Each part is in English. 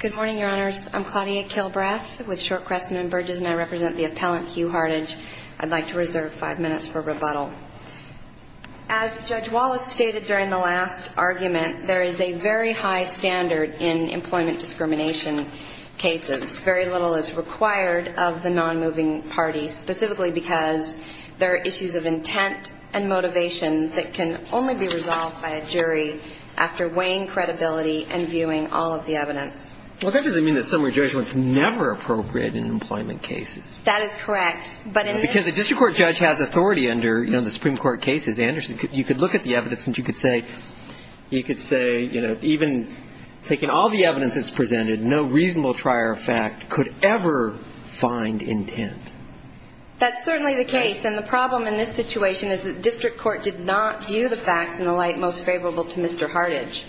Good morning, your honors. I'm Claudia Kilbreath with Short Crestman & Burgess, and I represent the appellant Hugh Hardage. I'd like to reserve five minutes for rebuttal. As Judge Wallace stated during the last argument, there is a very high standard in employment discrimination cases. Very little is required of the non-moving party, specifically because there are issues of intent and motivation that can only be resolved by a jury after weighing credibility and viewing all of the evidence. Well, that doesn't mean that summary judgment is never appropriate in employment cases. That is correct. Because a district court judge has authority under the Supreme Court cases. Anderson, you could look at the evidence and you could say, you know, even taking all the evidence that's presented, no reasonable trier of fact could ever find intent. That's certainly the case. And the problem in this situation is that district court did not view the facts in the light most favorable to Mr. Hardage.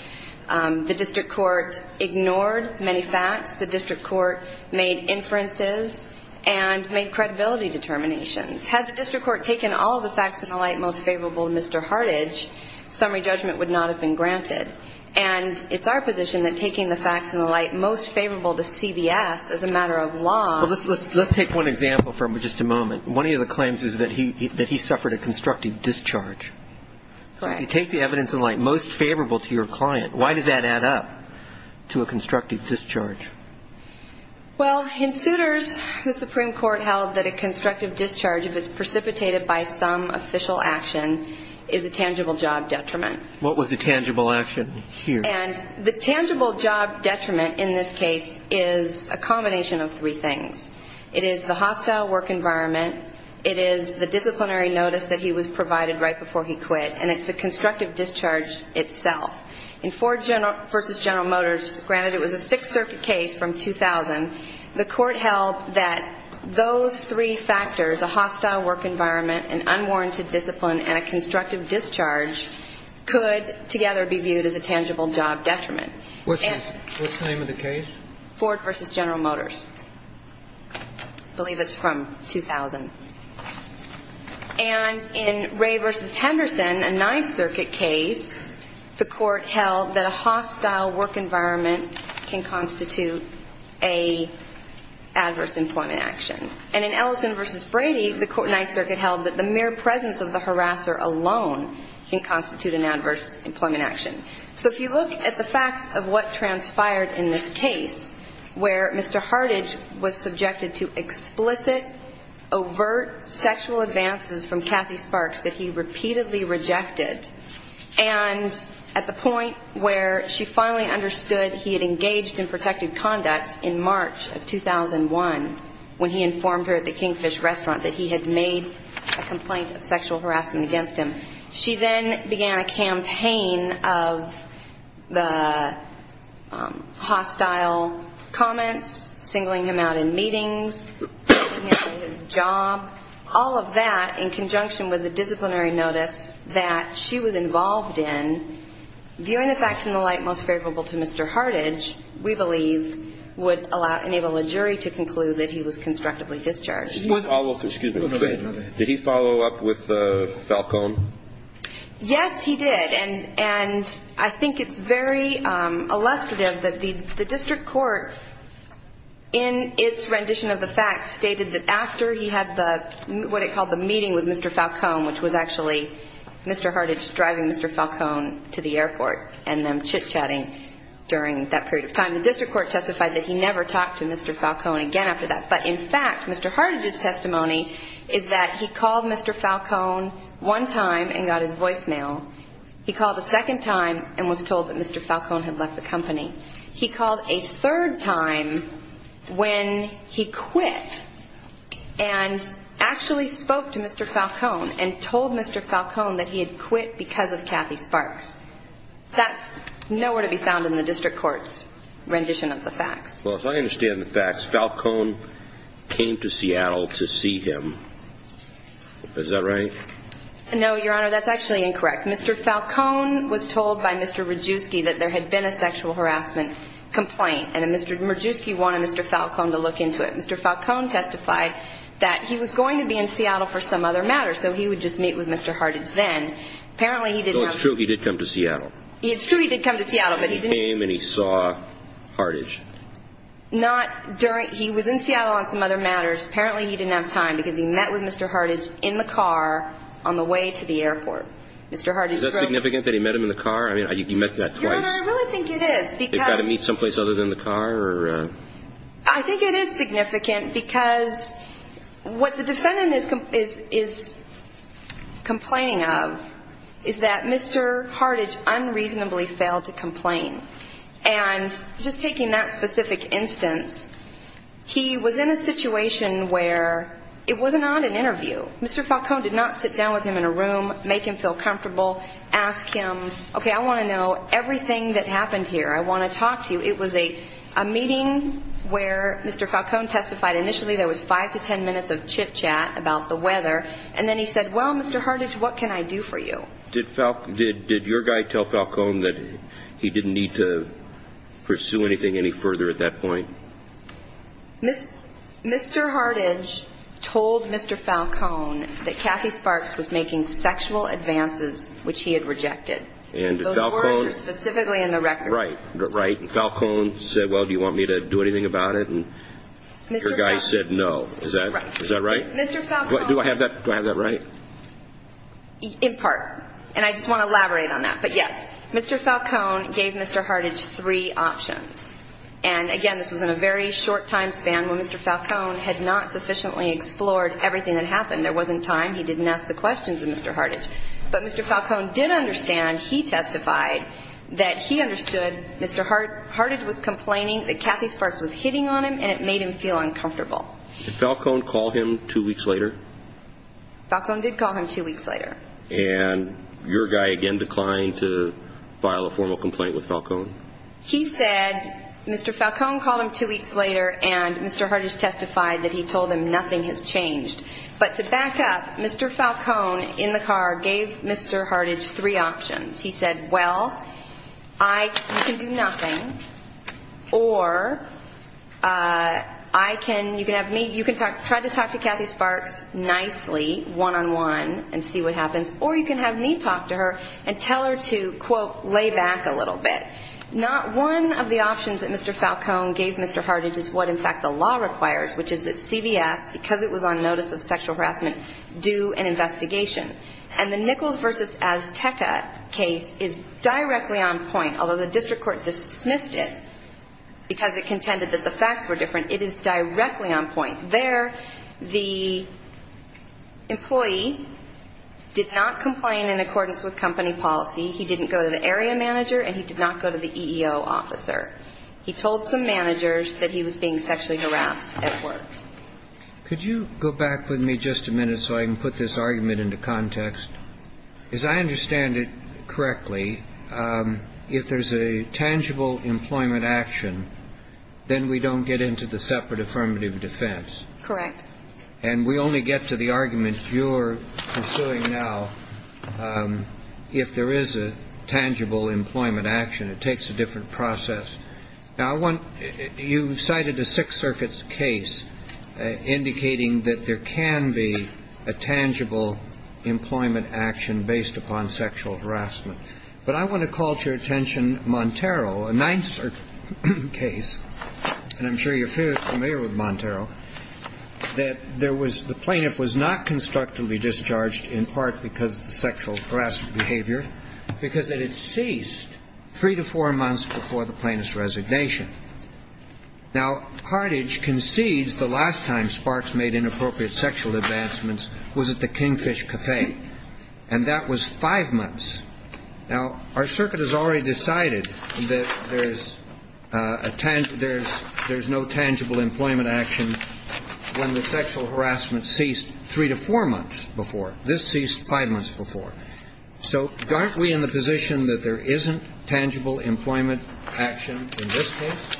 The district court ignored many facts. The district court made inferences and made credibility determinations. Had the district court taken all the facts in the light most favorable to Mr. Hardage, summary judgment would not have been granted. And it's our position that taking the facts in the light most favorable to CBS as a matter of law Well, let's take one example for just a moment. One of the claims is that he suffered a constructive discharge. Correct. You take the evidence in light most favorable to your client. Why does that add up to a constructive discharge? Well, in suitors, the Supreme Court held that a constructive discharge, if it's precipitated by some official action, is a tangible job detriment. What was the tangible action here? And the tangible job detriment in this case is a combination of three things. It is the hostile work environment. It is the disciplinary notice that he was provided right before he quit. And it's the constructive discharge itself. In Ford v. General Motors, granted it was a Sixth Circuit case from 2000, the court held that those three factors, a hostile work environment, an unwarranted discipline, and a constructive discharge could together be viewed as a tangible job detriment. What's the name of the case? Ford v. General Motors. I believe it's from 2000. And in Ray v. Henderson, a Ninth Circuit case, the court held that a hostile work environment can constitute an adverse employment action. And in Ellison v. Brady, the Ninth Circuit held that the mere presence of the harasser alone can constitute an adverse employment action. So if you look at the facts of what transpired in this case, where Mr. Hartage was subjected to explicit, overt sexual advances from Kathy Sparks that he repeatedly rejected, and at the point where she finally understood he had engaged in protected conduct in March of 2001, when he informed her at the Kingfish restaurant that he had made a complaint of sexual harassment against him, she then began a campaign of the hostile comments, singling him out in meetings, putting him out of his job, all of that in conjunction with the disciplinary notice that she had provided. And in the case that she was involved in, viewing the facts in the light most favorable to Mr. Hartage, we believe, would enable a jury to conclude that he was constructively discharged. Did he follow up with Falcone? Yes, he did. And I think it's very illustrative that the district court, in its rendition of the facts, stated that after he had the, what it called the meeting with Mr. Falcone, which was actually Mr. Hartage driving Mr. Falcone to the airport and them chit-chatting during that period of time, the district court testified that he never talked to Mr. Falcone again after that. But in fact, Mr. Hartage's testimony is that he called Mr. Falcone one time and got his voicemail. He called a second time and was told that Mr. Falcone had left the company. He called a third time when he quit and actually spoke to Mr. Falcone and told Mr. Falcone that he had quit because of Kathy Sparks. That's nowhere to be found in the district court's rendition of the facts. Well, if I understand the facts, Falcone came to Seattle to see him. Is that right? No, Your Honor, that's actually incorrect. Mr. Falcone was told by Mr. Radjuski that there had been a sexual harassment complaint, and Mr. Radjuski wanted Mr. Falcone to look into it. Mr. Falcone testified that he was going to be in Seattle for some other matter, so he would just meet with Mr. Hartage then. No, it's true. He did come to Seattle. He came and he saw Hartage. He was in Seattle on some other matters. Apparently, he didn't have time because he met with Mr. Hartage in the car on the way to the airport. Is that significant that he met him in the car? I mean, you met that twice. Your Honor, I really think it is. They've got to meet someplace other than the car? I think it is significant because what the defendant is complaining of is that Mr. Hartage unreasonably failed to complain. And just taking that specific instance, he was in a situation where it was not an interview. Mr. Falcone did not sit down with him in a room, make him feel comfortable, ask him, okay, I want to know everything that happened here. I want to talk to you. It was a meeting where Mr. Falcone testified. Initially, there was five to ten minutes of chit-chat about the weather, and then he said, well, Mr. Hartage, what can I do for you? Did your guy tell Falcone that he didn't need to pursue anything any further at that point? Mr. Hartage told Mr. Falcone that Kathy Sparks was making sexual advances which he had rejected. Those words are specifically in the record. Right. And Falcone said, well, do you want me to do anything about it? And your guy said no. Is that right? Mr. Falcone Do I have that right? In part. And I just want to elaborate on that. But, yes, Mr. Falcone gave Mr. Hartage three options. And, again, this was in a very short time span when Mr. Falcone had not sufficiently explored everything that happened. There wasn't time. He didn't ask the questions of Mr. Hartage. But Mr. Falcone did understand, he testified, that he understood Mr. Hartage was complaining that Kathy Sparks was hitting on him, and it made him feel uncomfortable. Did Falcone call him two weeks later? Falcone did call him two weeks later. And your guy, again, declined to file a formal complaint with Falcone? He said Mr. Falcone called him two weeks later, and Mr. Hartage testified that he told him nothing has changed. But to back up, Mr. Falcone, in the car, gave Mr. Hartage three options. He said, well, you can do nothing, or you can try to talk to Kathy Sparks nicely, one-on-one, and see what happens, or you can have me talk to her and tell her to, quote, lay back a little bit. Not one of the options that Mr. Falcone gave Mr. Hartage is what, in fact, the law requires, which is that CVS, because it was on notice of sexual harassment, do an investigation. And the Nichols v. Azteca case is directly on point, although the district court dismissed it because it contended that the facts were different. It is directly on point. There, the employee did not complain in accordance with company policy. He didn't go to the area manager, and he did not go to the EEO officer. He told some managers that he was being sexually harassed at work. Could you go back with me just a minute so I can put this argument into context? As I understand it correctly, if there's a tangible employment action, then we don't get into the separate affirmative defense. Correct. And we only get to the argument you're pursuing now if there is a tangible employment action. It takes a different process. Now, you cited a Sixth Circuit's case indicating that there can be a tangible employment action based upon sexual harassment. But I want to call to your attention Montero, a Ninth Circuit case, and I'm sure you're familiar with Montero, that the plaintiff was not constructively discharged in part because of the sexual harassment behavior, because it had ceased three to four months before the plaintiff's resignation. Now, Carthage concedes the last time Sparks made inappropriate sexual advancements was at the Kingfish Cafe, and that was five months. Now, our circuit has already decided that there's no tangible employment action when the sexual harassment ceased three to four months before. This ceased five months before. So aren't we in the position that there isn't tangible employment action in this case?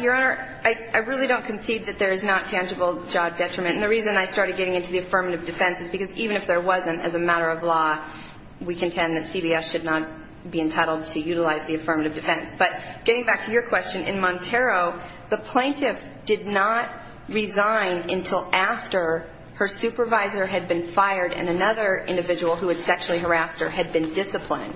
Your Honor, I really don't concede that there is not tangible job detriment. And the reason I started getting into the affirmative defense is because even if there wasn't, as a matter of law, we contend that CBS should not be entitled to utilize the affirmative defense. But getting back to your question, in Montero, the plaintiff did not resign until after her supervisor had been fired and another individual who had sexually harassed her had been disciplined.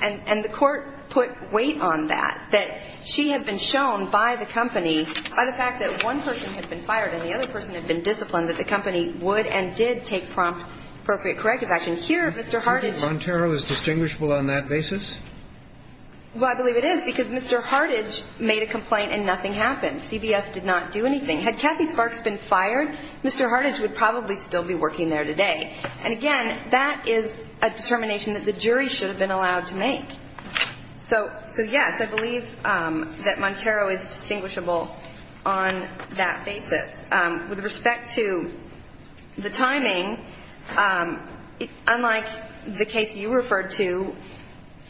And the court put weight on that, that she had been shown by the company, by the fact that one person had been fired and the other person had been disciplined, that the company would and did take appropriate corrective action. Here, Mr. Hartage ---- Do you think Montero is distinguishable on that basis? Well, I believe it is because Mr. Hartage made a complaint and nothing happened. CBS did not do anything. Had Kathy Sparks been fired, Mr. Hartage would probably still be working there today. And, again, that is a determination that the jury should have been allowed to make. So, yes, I believe that Montero is distinguishable on that basis. With respect to the timing, unlike the case you referred to,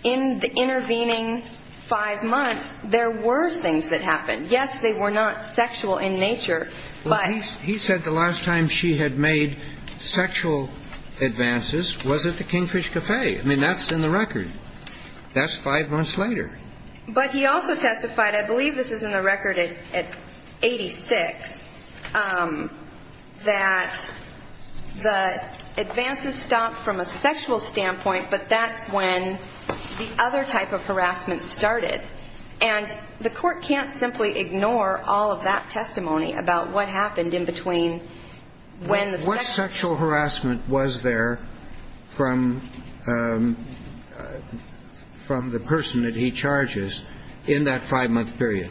in the intervening five months, there were things that happened. Yes, they were not sexual in nature, but ---- Well, he said the last time she had made sexual advances was at the Kingfish Café. I mean, that's in the record. That's five months later. But he also testified, I believe this is in the record at 86, that the advances stopped from a sexual standpoint, but that's when the other type of harassment started. And the Court can't simply ignore all of that testimony about what happened in between when the sexual ---- I'm just trying to get a sense of the extent to which the Court had a right to ignore from the person that he charges in that five-month period.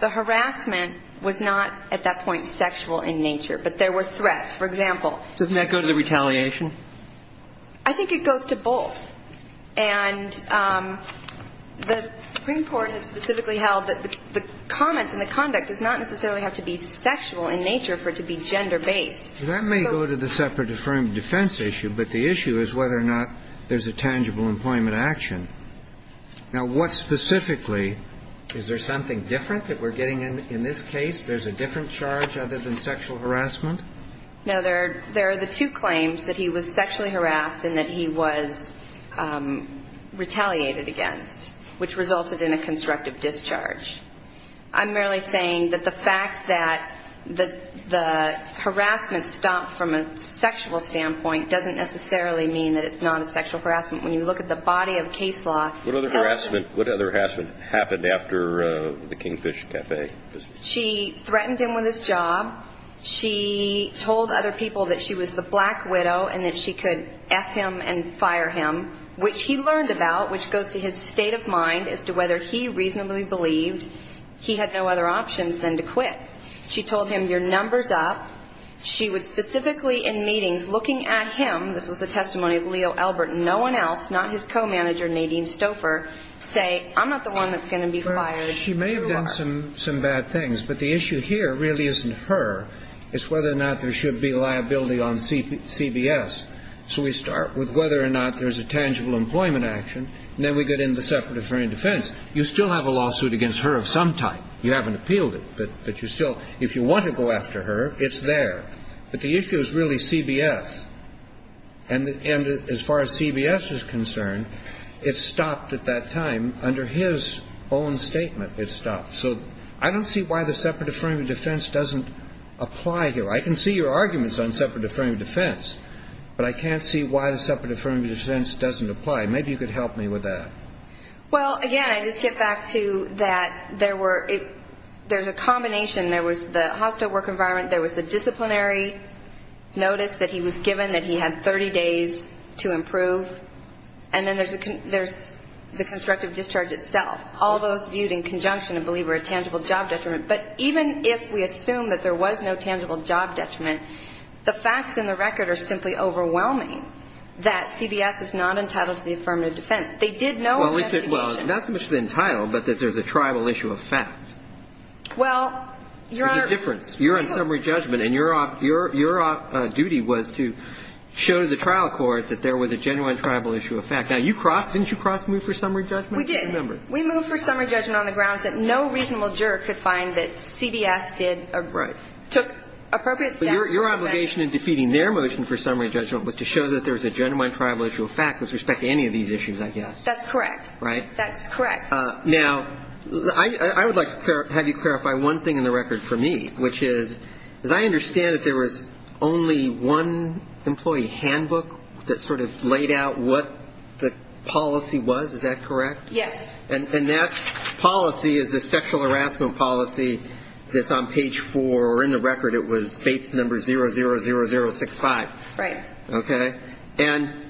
The harassment was not, at that point, sexual in nature, but there were threats. For example ---- Doesn't that go to the retaliation? I think it goes to both. It's a separate affirmative defense issue, but the issue is whether or not there's a tangible employment action. Now, what specifically? Is there something different that we're getting in this case? There's a different charge other than sexual harassment? No, there are the two claims, that he was sexually harassed and that he was retaliated against, which resulted in a constructive discharge. I'm merely saying that the fact that the harassment stopped from a sexual standpoint doesn't necessarily mean that it's not a sexual harassment. When you look at the body of case law ---- What other harassment happened after the Kingfish Cafe? She threatened him with his job. She told other people that she was the black widow and that she could F him and fire him, which he learned about, which goes to his state of mind as to whether he reasonably believed he had no other options than to quit. She told him, your number's up. She was specifically in meetings looking at him. This was the testimony of Leo Elbert. No one else, not his co-manager, Nadine Stouffer, say, I'm not the one that's going to be fired. She may have done some bad things, but the issue here really isn't her. It's whether or not there should be liability on CBS. So we start with whether or not there's a tangible employment action, and then we get into the separate affirmative defense. You still have a lawsuit against her of some type. You haven't appealed it, but you still ---- if you want to go after her, it's there. But the issue is really CBS. And as far as CBS is concerned, it stopped at that time under his own statement. It stopped. So I don't see why the separate affirmative defense doesn't apply here. I can see your arguments on separate affirmative defense, but I can't see why the separate affirmative defense doesn't apply. Maybe you could help me with that. Well, again, I just get back to that there were ---- there's a combination. There was the hostile work environment. There was the disciplinary notice that he was given that he had 30 days to improve. And then there's the constructive discharge itself, all those viewed in conjunction, I believe, were a tangible job detriment. But even if we assume that there was no tangible job detriment, the facts in the record are simply overwhelming that CBS is not entitled to the affirmative defense. They did no investigation. Well, not so much the entitlement, but that there's a tribal issue of fact. Well, Your Honor ---- There's a difference. You're on summary judgment, and your duty was to show to the trial court that there was a genuine tribal issue of fact. Now, you crossed ---- didn't you cross-move for summary judgment? We did. We moved for summary judgment on the grounds that no reasonable juror could find that CBS did ---- Right. ---- took appropriate steps. But your obligation in defeating their motion for summary judgment was to show that there was a genuine tribal issue of fact with respect to any of these issues, I guess. That's correct. Right? That's correct. Now, I would like to have you clarify one thing in the record for me, which is, as I understand it, there was only one employee handbook that sort of laid out what the policy was. Is that correct? Yes. And that policy is the sexual harassment policy that's on page 4, or in the record it was Bates number 00065. Right. Okay. And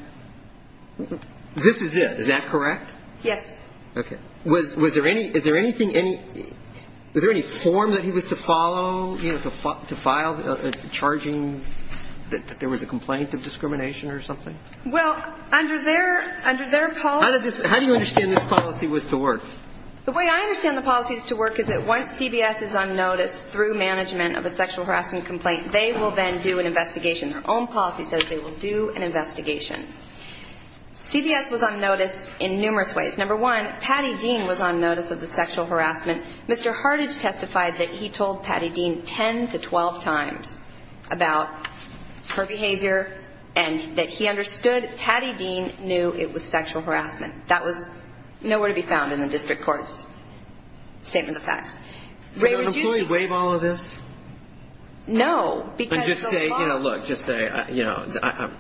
this is it. Is that correct? Yes. Okay. Was there any ---- is there anything any ---- was there any form that he was to follow, you know, to file a charging that there was a complaint of discrimination or something? Well, under their policy ---- How did this ---- how do you understand this policy was to work? The way I understand the policy is to work is that once CBS is on notice through management of a sexual harassment complaint, they will then do an investigation. Their own policy says they will do an investigation. CBS was on notice in numerous ways. Number one, Patty Dean was on notice of the sexual harassment. Mr. Hartage testified that he told Patty Dean 10 to 12 times about her behavior and that he understood. But Patty Dean knew it was sexual harassment. That was nowhere to be found in the district court's statement of facts. Did an employee waive all of this? No. And just say, you know, look, just say, you know,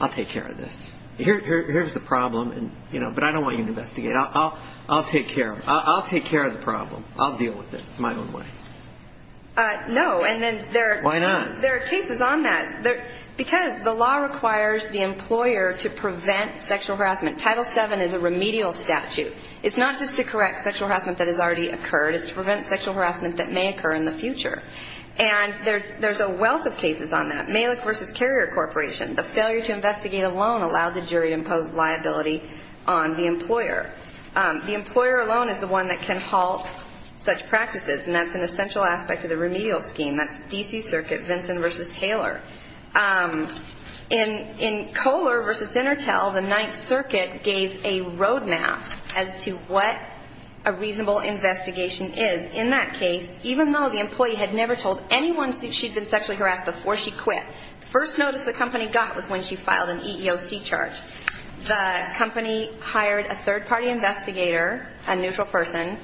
I'll take care of this. Here's the problem, you know, but I don't want you to investigate. I'll take care of it. I'll take care of the problem. I'll deal with it my own way. No, and then there are cases on that. Why not? Because the law requires the employer to prevent sexual harassment. Title VII is a remedial statute. It's not just to correct sexual harassment that has already occurred. It's to prevent sexual harassment that may occur in the future. And there's a wealth of cases on that. Malik v. Carrier Corporation, the failure to investigate alone allowed the jury to impose liability on the employer. The employer alone is the one that can halt such practices, and that's an essential aspect of the remedial scheme. That's D.C. Circuit, Vincent v. Taylor. In Kohler v. Centertel, the Ninth Circuit gave a roadmap as to what a reasonable investigation is. In that case, even though the employee had never told anyone she'd been sexually harassed before she quit, the first notice the company got was when she filed an EEOC charge. The company hired a third-party investigator, a neutral person,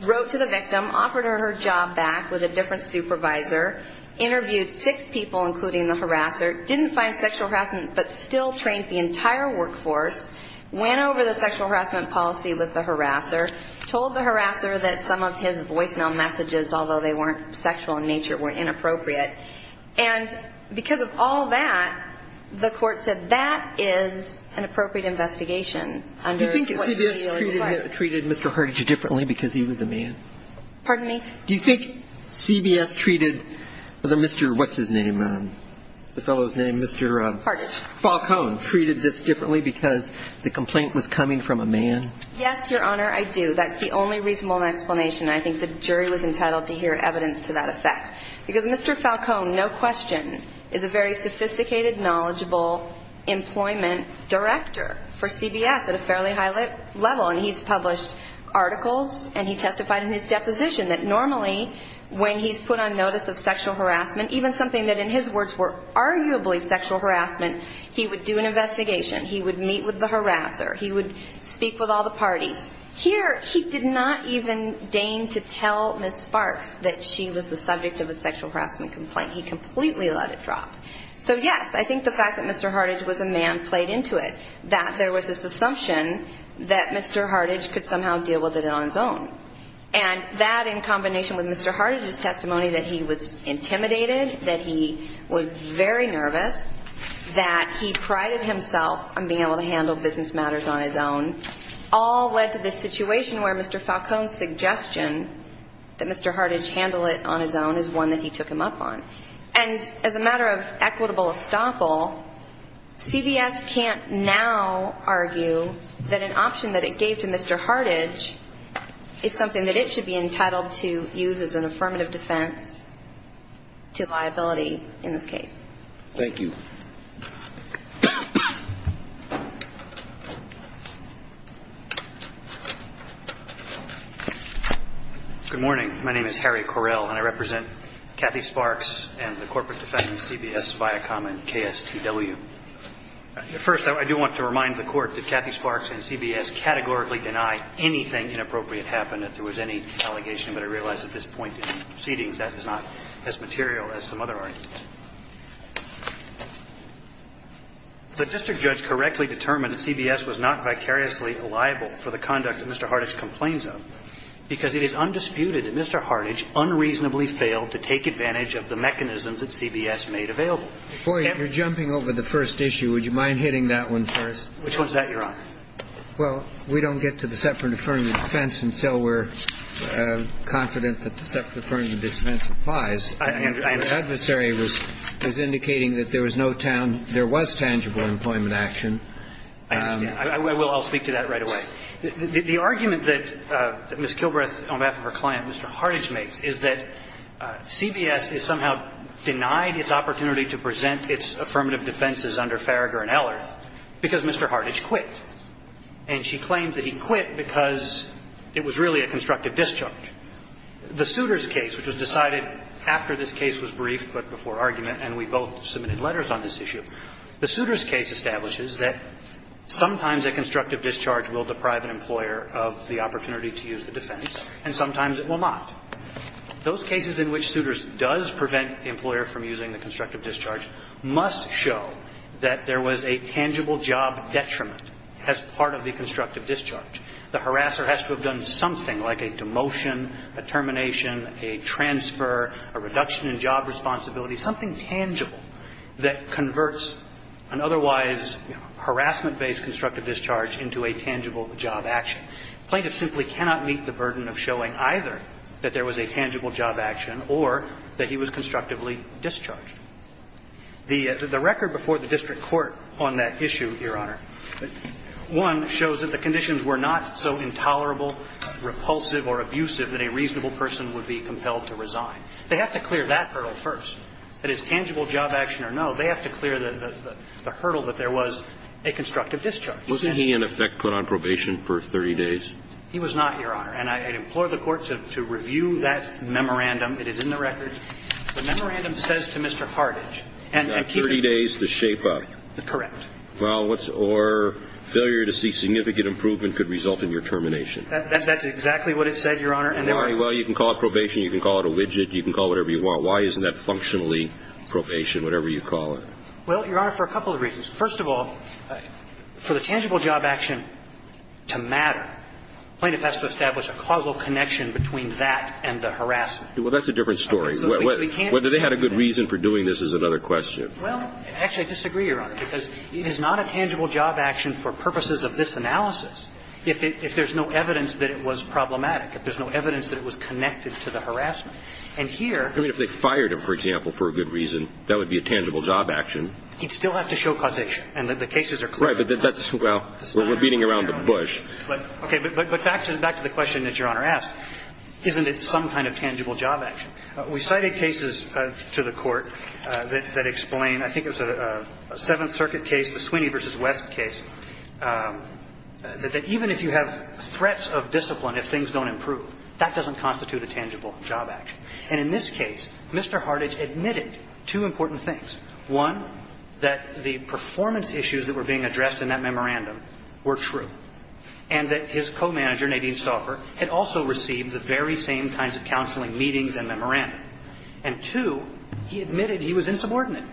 wrote to the victim, offered her her job back with a different supervisor, interviewed six people, including the harasser, didn't find sexual harassment but still trained the entire workforce, went over the sexual harassment policy with the harasser, told the harasser that some of his voicemail messages, although they weren't sexual in nature, were inappropriate. And because of all that, the court said that is an appropriate investigation. Do you think CBS treated Mr. Hardidge differently because he was a man? Pardon me? Do you think CBS treated the Mr. What's-his-name, the fellow's name, Mr. Falcone, treated this differently because the complaint was coming from a man? Yes, Your Honor, I do. That's the only reasonable explanation. I think the jury was entitled to hear evidence to that effect. Because Mr. Falcone, no question, is a very sophisticated, knowledgeable employment director for CBS at a fairly high level. And he's published articles and he testified in his deposition that normally when he's put on notice of sexual harassment, even something that in his words were arguably sexual harassment, he would do an investigation, he would meet with the harasser, he would speak with all the parties. Here, he did not even deign to tell Ms. Sparks that she was the subject of a sexual harassment complaint. He completely let it drop. So, yes, I think the fact that Mr. Hardidge was a man played into it, that there was this assumption that Mr. Hardidge could somehow deal with it on his own. And that in combination with Mr. Hardidge's testimony that he was intimidated, that he was very nervous, that he prided himself on being able to handle business matters on his own, all led to this situation where Mr. Falcone's suggestion that Mr. Hardidge handle it on his own is one that he took him up on. And as a matter of equitable estoppel, CBS can't now argue that an option that it gave to Mr. Hardidge is something that it should be entitled to use as an affirmative defense to liability in this case. Thank you. Good morning. My name is Harry Correll, and I represent Kathy Sparks and the corporate defendants, CBS, Viacom, and KSTW. First, I do want to remind the Court that Kathy Sparks and CBS categorically deny anything inappropriate happened, and that there was any allegation that I realize at this point in proceedings that is not as material as some other arguments. The district judge correctly determined that CBS was not vicariously liable for the conduct that Mr. Hardidge complains of, because it is undisputed that Mr. Hardidge unreasonably failed to take advantage of the mechanisms that CBS made available. Before you're jumping over the first issue, would you mind hitting that one first? Which one's that, Your Honor? Well, we don't get to the separate affirmative defense until we're confident that the separate affirmative defense applies. I understand. The adversary was indicating that there was no tangible employment action. I understand. I will. I'll speak to that right away. The argument that Ms. Kilbreth, on behalf of her client, Mr. Hardidge, makes is that CBS is somehow denied its opportunity to present its affirmative defenses under Farragher and Ehlers because Mr. Hardidge quit. And she claims that he quit because it was really a constructive discharge. The Souters case, which was decided after this case was briefed, but before argument, and we both submitted letters on this issue, the Souters case establishes that sometimes a constructive discharge will deprive an employer of the opportunity to use the defense, and sometimes it will not. Those cases in which Souters does prevent the employer from using the constructive discharge must show that there was a tangible job detriment as part of the constructive discharge. The harasser has to have done something like a demotion, a termination, a transfer, a reduction in job responsibility, something tangible that converts an otherwise harassment-based constructive discharge into a tangible job action. Plaintiffs simply cannot meet the burden of showing either that there was a tangible job action or that he was constructively discharged. The record before the district court on that issue, Your Honor, one, shows that the conditions were not so intolerable, repulsive, or abusive that a reasonable person would be compelled to resign. They have to clear that hurdle first. That it's tangible job action or no, they have to clear the hurdle that there was a constructive discharge. Wasn't he, in effect, put on probation for 30 days? He was not, Your Honor. And I implore the Court to review that memorandum. It is in the record. The memorandum says to Mr. Hartage, and I'm curious. 30 days to shape up. Correct. Well, or failure to see significant improvement could result in your termination. That's exactly what it said, Your Honor. Well, you can call it probation. You can call it a widget. You can call it whatever you want. Why isn't that functionally probation, whatever you call it? Well, Your Honor, for a couple of reasons. First of all, for the tangible job action to matter, plaintiffs have to establish a causal connection between that and the harassment. Well, that's a different story. Whether they had a good reason for doing this is another question. Well, actually, I disagree, Your Honor, because it is not a tangible job action for purposes of this analysis if there's no evidence that it was problematic, if there's no evidence that it was connected to the harassment. And here. I mean, if they fired him, for example, for a good reason, that would be a tangible job action. He'd still have to show causation. And the cases are clear. Right. But that's, well, we're beating around the bush. Okay. But back to the question that Your Honor asked, isn't it some kind of tangible job action? We cited cases to the Court that explain, I think it was a Seventh Circuit case, the Sweeney v. West case, that even if you have threats of discipline, if things don't improve, that doesn't constitute a tangible job action. And in this case, Mr. Hartage admitted two important things. One, that the performance issues that were being addressed in that memorandum were true, and that his co-manager, Nadine Stauffer, had also received the very same kinds of counseling meetings and memorandum. And, two, he admitted he was insubordinate.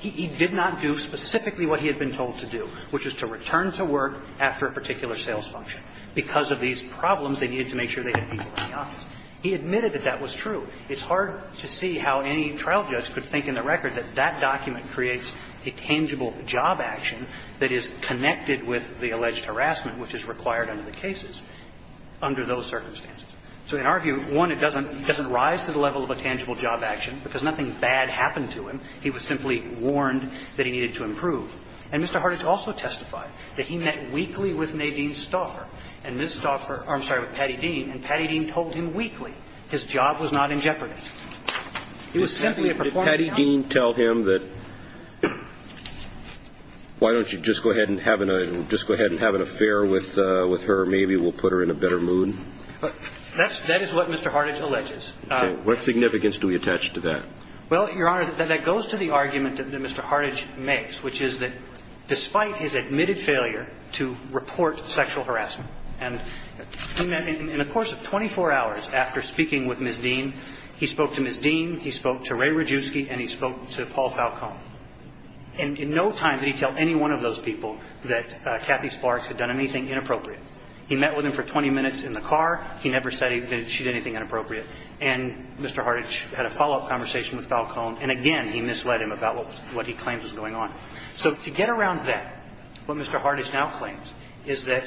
He did not do specifically what he had been told to do, which is to return to work after a particular sales function. Because of these problems, they needed to make sure they had people in the office. He admitted that that was true. It's hard to see how any trial judge could think in the record that that document creates a tangible job action that is connected with the alleged harassment, which is required under the cases, under those circumstances. So in our view, one, it doesn't rise to the level of a tangible job action, because nothing bad happened to him. He was simply warned that he needed to improve. And Mr. Hartage also testified that he met weekly with Nadine Stauffer and Ms. Stauffer or, I'm sorry, with Patty Dean, and Patty Dean told him weekly his job was not in jeopardy. He was simply a performance counselor. And Ms. Dean told him that, why don't you just go ahead and have an affair with her? Maybe it will put her in a better mood. That is what Mr. Hartage alleges. What significance do we attach to that? Well, Your Honor, that goes to the argument that Mr. Hartage makes, which is that despite his admitted failure to report sexual harassment, and in the course of 24 hours after speaking with Ms. Dean, he spoke to Ms. Dean, he spoke to Ray Radjuski, and he spoke to Paul Falcone. And in no time did he tell any one of those people that Kathy Sparks had done anything inappropriate. He met with him for 20 minutes in the car. He never said that she did anything inappropriate. And Mr. Hartage had a follow-up conversation with Falcone, and again, he misled him about what he claims was going on. So to get around that, what Mr. Hartage now claims is that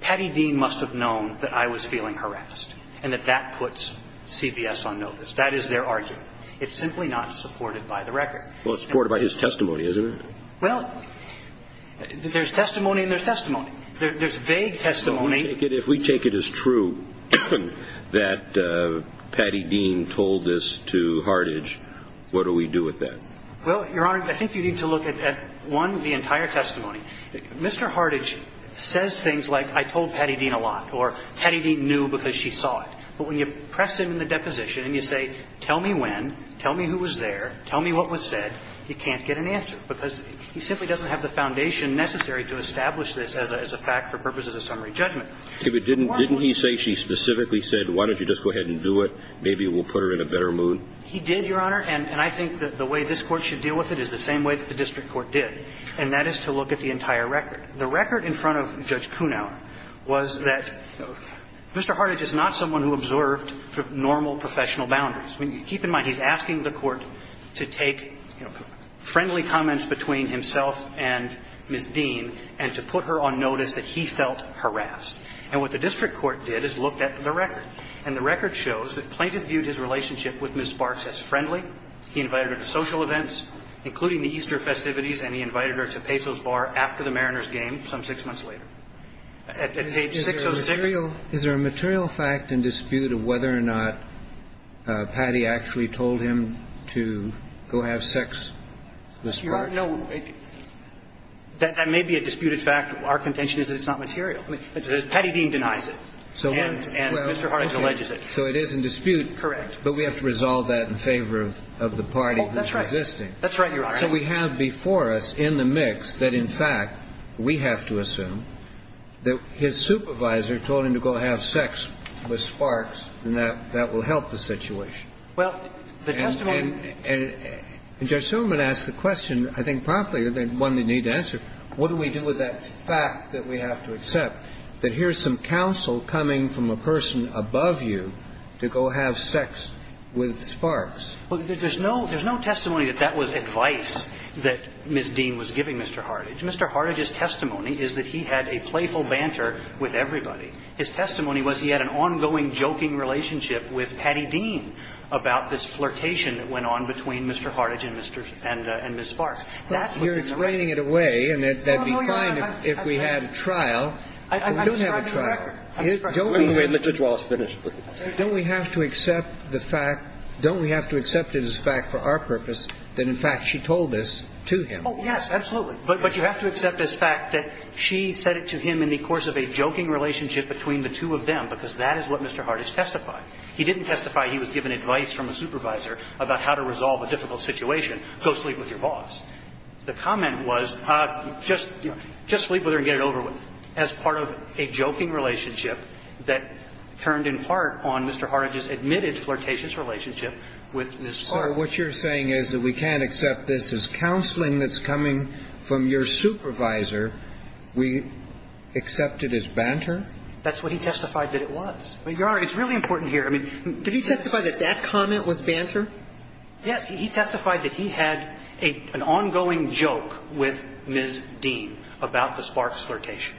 Patty Dean must have known that I was feeling harassed, and that that puts CVS on notice. That is their argument. It's simply not supported by the record. Well, it's supported by his testimony, isn't it? Well, there's testimony in their testimony. There's vague testimony. If we take it as true that Patty Dean told this to Hartage, what do we do with that? Well, Your Honor, I think you need to look at, one, the entire testimony. Mr. Hartage says things like, I told Patty Dean a lot, or Patty Dean knew because she saw it. But when you press him in the deposition and you say, tell me when, tell me who was there, tell me what was said, you can't get an answer, because he simply doesn't have the foundation necessary to establish this as a fact for purposes of summary judgment. Didn't he say she specifically said, why don't you just go ahead and do it? Maybe it will put her in a better mood? He did, Your Honor. And I think that the way this Court should deal with it is the same way that the entire record. The record in front of Judge Kunau was that Mr. Hartage is not someone who observed normal professional boundaries. I mean, keep in mind, he's asking the Court to take, you know, friendly comments between himself and Ms. Dean and to put her on notice that he felt harassed. And what the district court did is looked at the record. And the record shows that Plaintiff viewed his relationship with Ms. Barks as friendly. He invited her to social events, including the Easter festivities, and he invited her to Peso's bar after the Mariners game, some six months later. At page 606. Is there a material fact and dispute of whether or not Patty actually told him to go have sex with Ms. Barks? Your Honor, no. That may be a disputed fact. Our contention is that it's not material. Patty Dean denies it. And Mr. Hartage alleges it. So it is in dispute. Correct. But we have to resolve that in favor of the party who's resisting. That's right. That's right, Your Honor. And so we have before us in the mix that, in fact, we have to assume that his supervisor told him to go have sex with Sparks, and that that will help the situation. Well, the testimony And Judge Silverman asked the question, I think promptly, one they need to answer. What do we do with that fact that we have to accept, that here's some counsel coming from a person above you to go have sex with Sparks? Well, there's no testimony that that was advice that Ms. Dean was giving Mr. Hartage. Mr. Hartage's testimony is that he had a playful banter with everybody. His testimony was he had an ongoing joking relationship with Patty Dean about this flirtation that went on between Mr. Hartage and Ms. Barks. That's what's in the record. Well, you're explaining it away, and that would be fine if we had a trial. I'm sorry, Your Honor. We don't have a trial. I'm sorry, Your Honor. Let Judge Wallace finish. Don't we have to accept the fact, don't we have to accept it as a fact for our purpose that, in fact, she told this to him? Oh, yes, absolutely. But you have to accept this fact that she said it to him in the course of a joking relationship between the two of them, because that is what Mr. Hartage testified. He didn't testify he was given advice from a supervisor about how to resolve a difficult situation, go sleep with your boss. The comment was, just sleep with her and get it over with, as part of a joking relationship that turned in part on Mr. Hartage's admitted flirtatious relationship with Ms. Barks. So what you're saying is that we can't accept this as counseling that's coming from your supervisor. We accept it as banter? That's what he testified that it was. Your Honor, it's really important here. Did he testify that that comment was banter? Yes. He testified that he had an ongoing joke with Ms. Dean about the Sparks flirtation.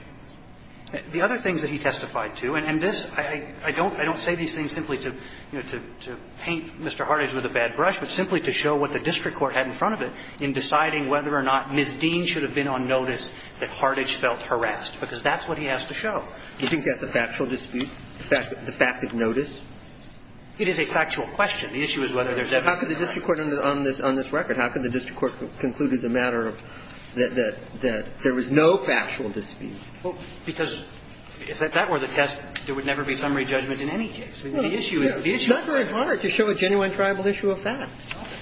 The other things that he testified to, and this – I don't say these things simply to, you know, to paint Mr. Hartage with a bad brush, but simply to show what the district court had in front of it in deciding whether or not Ms. Dean should have been on notice that Hartage felt harassed, because that's what he has to show. Do you think that's a factual dispute, the fact of notice? It is a factual question. The issue is whether there's evidence of harassment. How could the district court on this record, how could the district court conclude as a matter of – that there was no factual dispute? Well, because if that were the test, there would never be summary judgment in any case. The issue is – It's not very hard to show a genuine tribal issue of that.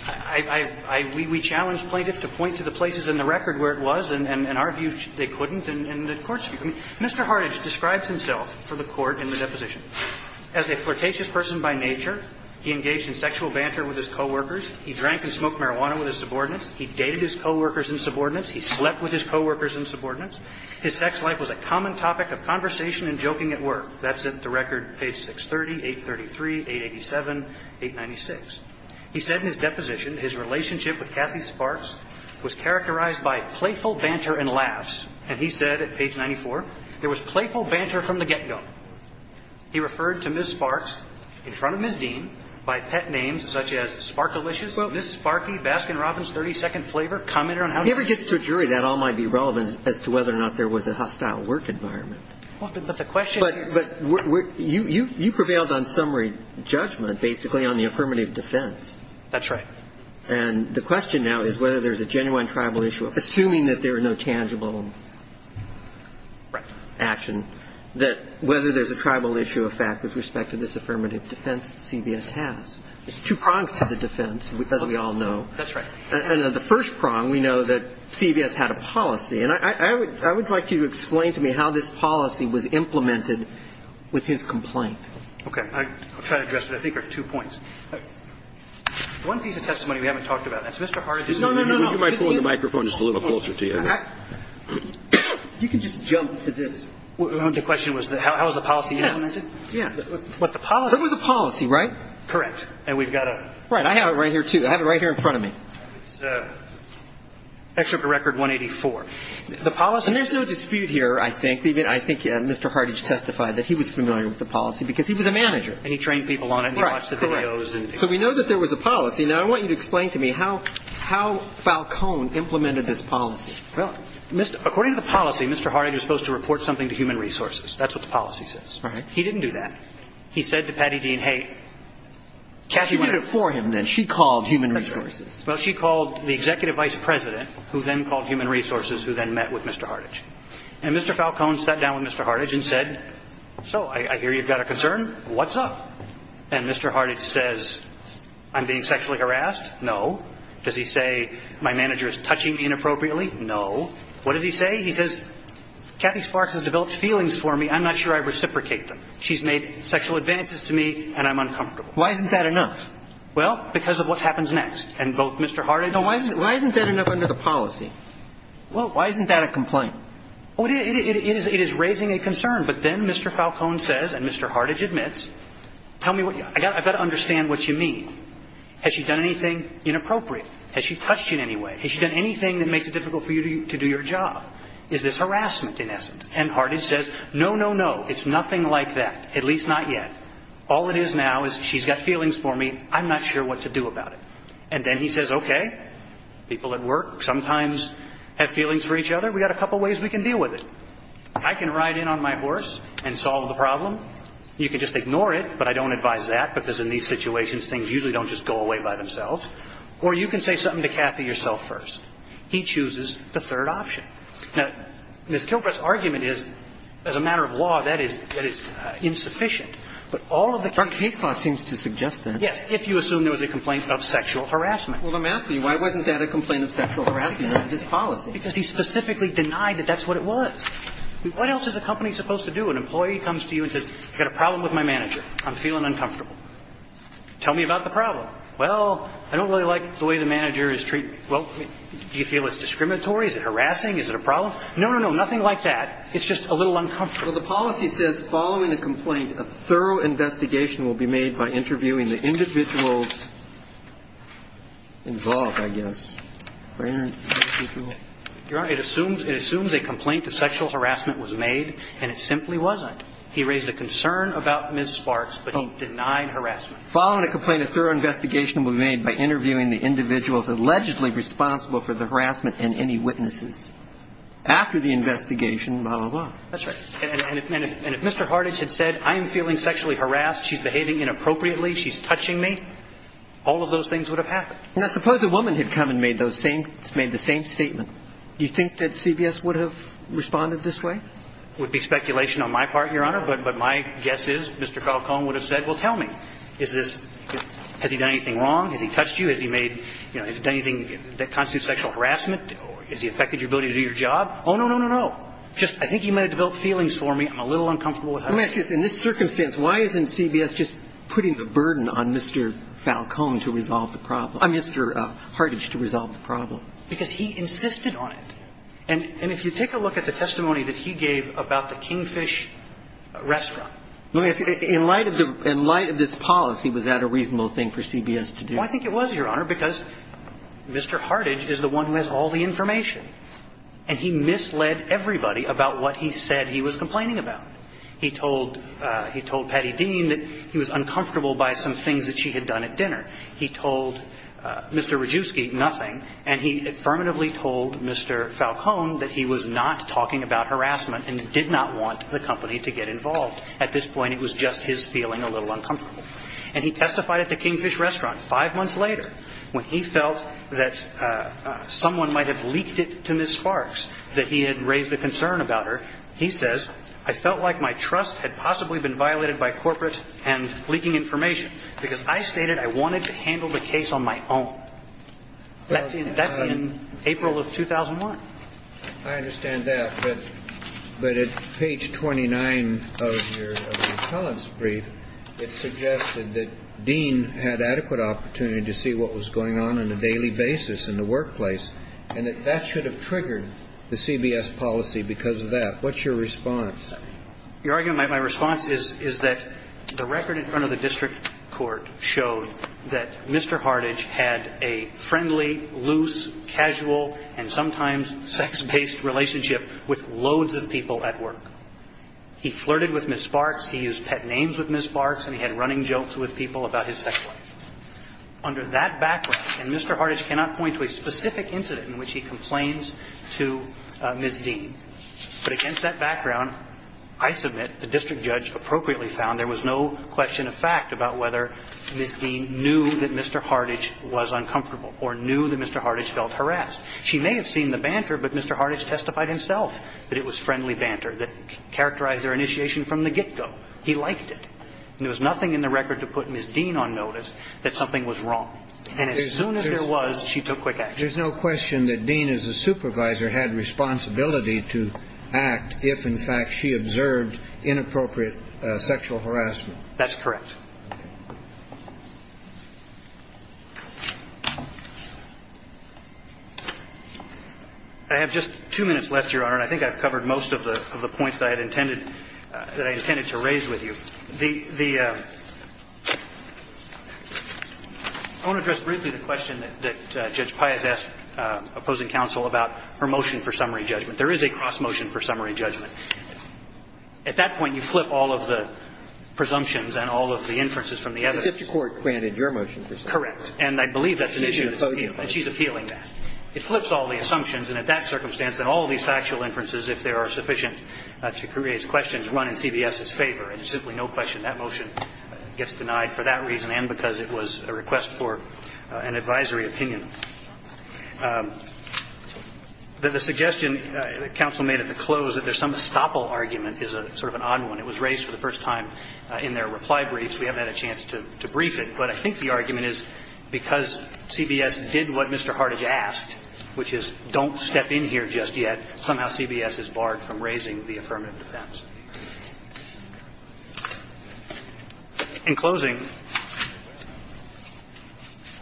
I – we challenge plaintiffs to point to the places in the record where it was, and our view, they couldn't, and the Court's view. Mr. Hartage describes himself for the Court in the deposition as a flirtatious person by nature. He engaged in sexual banter with his coworkers. He drank and smoked marijuana with his subordinates. He dated his coworkers and subordinates. He slept with his coworkers and subordinates. His sex life was a common topic of conversation and joking at work. That's at the record page 630, 833, 887, 896. He said in his deposition his relationship with Cassie Sparks was characterized by playful banter and laughs, and he said at page 94, there was playful banter from the get-go. He referred to Ms. Sparks in front of Ms. Dean by pet names such as Sparkalicious, Ms. Sparky, Baskin-Robbins, 32nd Flavor. Comment on how he – If he ever gets to a jury, that all might be relevant as to whether or not there was a hostile work environment. Well, but the question – But you prevailed on summary judgment, basically, on the affirmative defense. That's right. And the question now is whether there's a genuine tribal issue, assuming that there are no tangible action, that whether there's a tribal issue of fact with respect to this affirmative defense that CBS has. There's two prongs to the defense, as we all know. That's right. And of the first prong, we know that CBS had a policy. And I would like you to explain to me how this policy was implemented with his complaint. Okay. I'll try to address it. I think there are two points. One piece of testimony we haven't talked about. That's Mr. Hart. No, no, no. You might pull the microphone just a little closer to you. You can just jump to this. The question was how is the policy implemented? Yeah. But the policy – It was a policy, right? Correct. And we've got a – Right. I have it right here, too. I have it right here in front of me. It's Excerpt to Record 184. The policy – And there's no dispute here, I think. I think Mr. Hardidge testified that he was familiar with the policy because he was a manager. And he trained people on it and they watched the videos and – Right. Correct. So we know that there was a policy. Now, I want you to explain to me how Falcone implemented this policy. Well, according to the policy, Mr. Hardidge was supposed to report something to Human Resources. That's what the policy says. Right. He didn't do that. He said to Patty Dean, hey, Kathy – She did it for him, then. She called Human Resources. That's right. Well, she called the Executive Vice President, who then called Human Resources, who then met with Mr. Hardidge. And Mr. Falcone sat down with Mr. Hardidge and said, so, I hear you've got a concern. What's up? And Mr. Hardidge says, I'm being sexually harassed? No. Does he say my manager is touching me inappropriately? No. What does he say? He says, Kathy Sparks has developed feelings for me. I'm not sure I reciprocate them. She's made sexual advances to me, and I'm uncomfortable. Why isn't that enough? Well, because of what happens next. And both Mr. Hardidge – Why isn't that enough under the policy? Well – Why isn't that a complaint? It is raising a concern. But then Mr. Falcone says, and Mr. Hardidge admits, tell me what – I've got to understand what you mean. Has she done anything inappropriate? Has she touched you in any way? Has she done anything that makes it difficult for you to do your job? Is this harassment, in essence? And Hardidge says, no, no, no. It's nothing like that. At least not yet. All it is now is she's got feelings for me. I'm not sure what to do about it. And then he says, okay, people at work sometimes have feelings for each other. We've got a couple ways we can deal with it. I can ride in on my horse and solve the problem. You can just ignore it, but I don't advise that, because in these situations, things usually don't just go away by themselves. Or you can say something to Kathy yourself first. He chooses the third option. Now, Ms. Kilbride's argument is, as a matter of law, that is insufficient. But all of the case law seems to suggest that. Yes, if you assume there was a complaint of sexual harassment. Well, let me ask you, why wasn't that a complaint of sexual harassment? That was his policy. Because he specifically denied that that's what it was. What else is a company supposed to do? An employee comes to you and says, I've got a problem with my manager. I'm feeling uncomfortable. Tell me about the problem. Well, I don't really like the way the manager is treating me. Well, do you feel it's discriminatory? Is it harassing? Is it a problem? No, no, no, nothing like that. It's just a little uncomfortable. Well, the policy says, following a complaint, a thorough investigation will be made by interviewing the individuals involved, I guess. Your Honor, it assumes a complaint of sexual harassment was made, and it simply wasn't. He raised a concern about Ms. Sparks, but he denied harassment. Following a complaint, a thorough investigation will be made by interviewing the individuals allegedly responsible for the harassment and any witnesses. After the investigation, blah, blah, blah. That's right. And if Mr. Hartage had said, I'm feeling sexually harassed, she's behaving inappropriately, she's touching me, all of those things would have happened. Now, suppose a woman had come and made the same statement. Do you think that CBS would have responded this way? It would be speculation on my part, Your Honor, but my guess is Mr. Falcone would have said, well, tell me, has he done anything wrong? Has he touched you? Has he made, you know, has he done anything that constitutes sexual harassment? Has he affected your ability to do your job? Oh, no, no, no, no. Just, I think he may have developed feelings for me. I'm a little uncomfortable with that. Let me ask you this. In this circumstance, why isn't CBS just putting the burden on Mr. Falcone to resolve the problem or Mr. Hartage to resolve the problem? Because he insisted on it. And if you take a look at the testimony that he gave about the Kingfish restaurant. Let me ask you, in light of the – in light of this policy, was that a reasonable thing for CBS to do? Well, I think it was, Your Honor, because Mr. Hartage is the one who has all the information. And he misled everybody about what he said he was complaining about. He told – he told Patty Dean that he was uncomfortable by some things that she had done at dinner. He told Mr. Radjuski nothing. And he affirmatively told Mr. Falcone that he was not talking about harassment and did not want the company to get involved. At this point, it was just his feeling a little uncomfortable. And he testified at the Kingfish restaurant five months later when he felt that someone might have leaked it to Ms. Sparks, that he had raised a concern about her. He says, I felt like my trust had possibly been violated by corporate and leaking information because I stated I wanted to handle the case on my own. That's in April of 2001. I understand that. But at page 29 of your appellant's brief, it suggested that Dean had adequate opportunity to see what was going on on a daily basis in the workplace and that that should have triggered the CBS policy because of that. What's your response? Your Honor, my response is that the record in front of the district court showed that Mr. Hardidge had a friendly, loose, casual, and sometimes sex-based relationship with loads of people at work. He flirted with Ms. Sparks. He used pet names with Ms. Sparks. And he had running jokes with people about his sex life. Under that background, and Mr. Hardidge cannot point to a specific incident in which he complains to Ms. Dean, but against that background, I submit the district judge appropriately found there was no question of fact about whether Ms. Dean knew that Mr. Hardidge was uncomfortable or knew that Mr. Hardidge felt harassed. She may have seen the banter, but Mr. Hardidge testified himself that it was friendly banter that characterized their initiation from the get-go. He liked it. And there was nothing in the record to put Ms. Dean on notice that something was wrong. And as soon as there was, she took quick action. There's no question that Dean, as a supervisor, had responsibility to act if, in fact, she observed inappropriate sexual harassment. That's correct. I have just two minutes left, Your Honor. And I think I've covered most of the points that I had intended to raise with you. The ‑‑ I want to address briefly the question that Judge Pai has asked opposing counsel about her motion for summary judgment. There is a cross motion for summary judgment. At that point, you flip all of the presumptions and all of the inferences from the evidence. But the district court granted your motion for summary judgment. Correct. And I believe that's an issue that's appealing. And she's appealing that. It flips all the assumptions. And at that circumstance, and all of these factual inferences, if there are sufficient to create questions, run in CBS's favor. And there's simply no question that motion gets denied for that reason and because it was a request for an advisory opinion. The suggestion that counsel made at the close that there's some estoppel argument is sort of an odd one. It was raised for the first time in their reply briefs. We haven't had a chance to brief it. But I think the argument is because CBS did what Mr. Hart has asked, which is don't step in here just yet, somehow CBS is barred from raising the affirmative defense. In closing,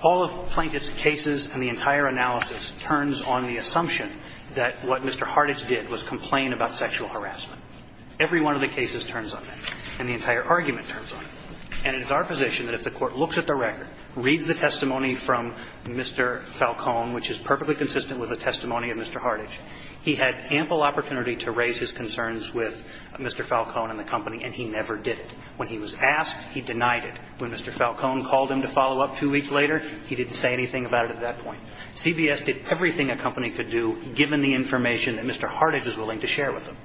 all of Plaintiff's cases and the entire analysis turns on the assumption that what Mr. Hartage did was complain about sexual harassment. Every one of the cases turns on that. And the entire argument turns on it. And it is our position that if the Court looks at the record, reads the testimony from Mr. Falcone, which is perfectly consistent with the testimony of Mr. Hartage, he had ample opportunity to raise his concerns with Mr. Falcone and the company and he never did it. When he was asked, he denied it. When Mr. Falcone called him to follow up two weeks later, he didn't say anything about it at that point. CBS did everything a company could do given the information that Mr. Hartage was willing to share with them.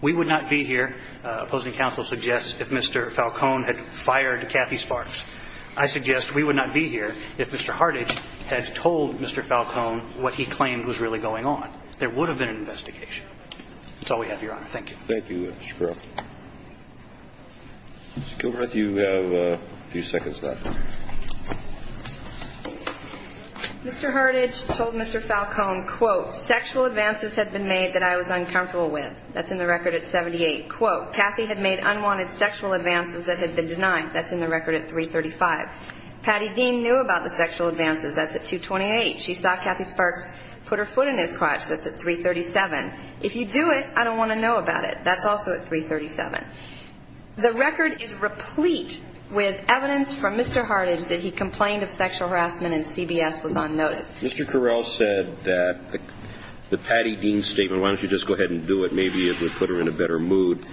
We would not be here, opposing counsel suggests, if Mr. Falcone had fired Kathy Sparks. I suggest we would not be here if Mr. Hartage had told Mr. Falcone what he claimed was really going on. There would have been an investigation. That's all we have, Your Honor. Thank you. Thank you, Mr. Carroll. Ms. Gilbreth, you have a few seconds left. Mr. Hartage told Mr. Falcone, quote, sexual advances had been made that I was uncomfortable with. That's in the record at 78. Quote, Kathy had made unwanted sexual advances that had been denied. That's in the record at 335. Patty Dean knew about the sexual advances. That's at 228. She saw Kathy Sparks put her foot in his crotch. That's at 337. If you do it, I don't want to know about it. That's also at 337. The record is replete with evidence from Mr. Hartage that he complained of sexual harassment and CBS was on notice. Mr. Carroll said that the Patty Dean statement, why don't you just go ahead and do it? Maybe it would put her in a better mood.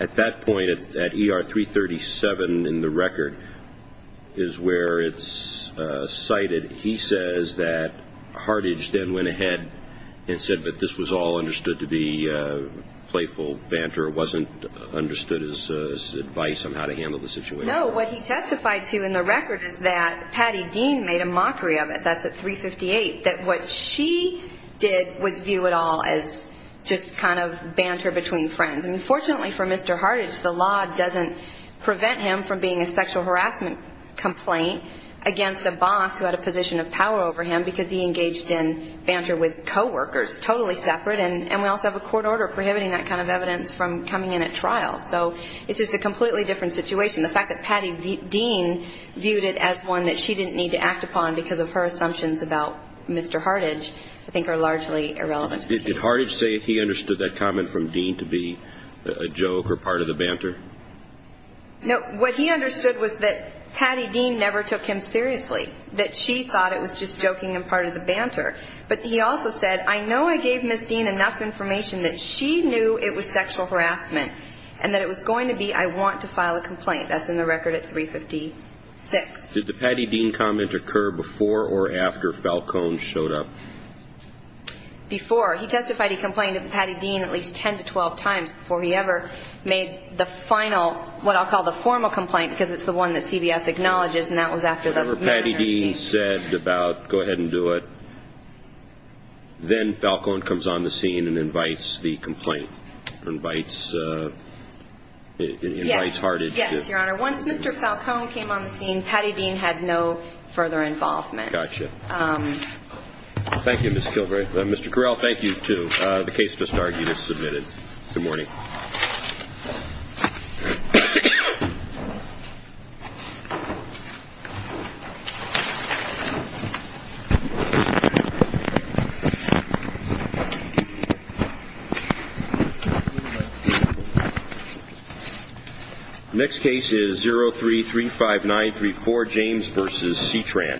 At that point, at ER 337 in the record is where it's cited. He says that Hartage then went ahead and said that this was all understood to be playful banter. It wasn't understood as advice on how to handle the situation. No, what he testified to in the record is that Patty Dean made a mockery of it. That's at 358, that what she did was view it all as just kind of banter between friends. I mean, fortunately for Mr. Hartage, the law doesn't prevent him from being a sexual harassment complaint against a boss who had a position of power over him because he engaged in banter with coworkers, totally separate. And we also have a court order prohibiting that kind of evidence from coming in at trial. So it's just a completely different situation. The fact that Patty Dean viewed it as one that she didn't need to act upon because of her assumptions about Mr. Hartage I think are largely irrelevant. Did Hartage say he understood that comment from Dean to be a joke or part of the banter? No, what he understood was that Patty Dean never took him seriously, that she thought it was just joking and part of the banter. But he also said, I know I gave Ms. Dean enough information that she knew it was sexual harassment and that it was going to be I want to file a complaint. That's in the record at 356. Did the Patty Dean comment occur before or after Falcone showed up? Before. He testified he complained to Patty Dean at least 10 to 12 times before he ever made the final, what I'll call the formal complaint, because it's the one that CBS acknowledges, and that was after the murder. Patty Dean said about go ahead and do it. Then Falcone comes on the scene and invites the complaint, invites Hartage. Yes, Your Honor. Once Mr. Falcone came on the scene, Patty Dean had no further involvement. Gotcha. Thank you, Ms. Kilgore. Mr. Correll, thank you, too. The case just argued is submitted. Good morning. The next case is 0335934, James v. C-Tran.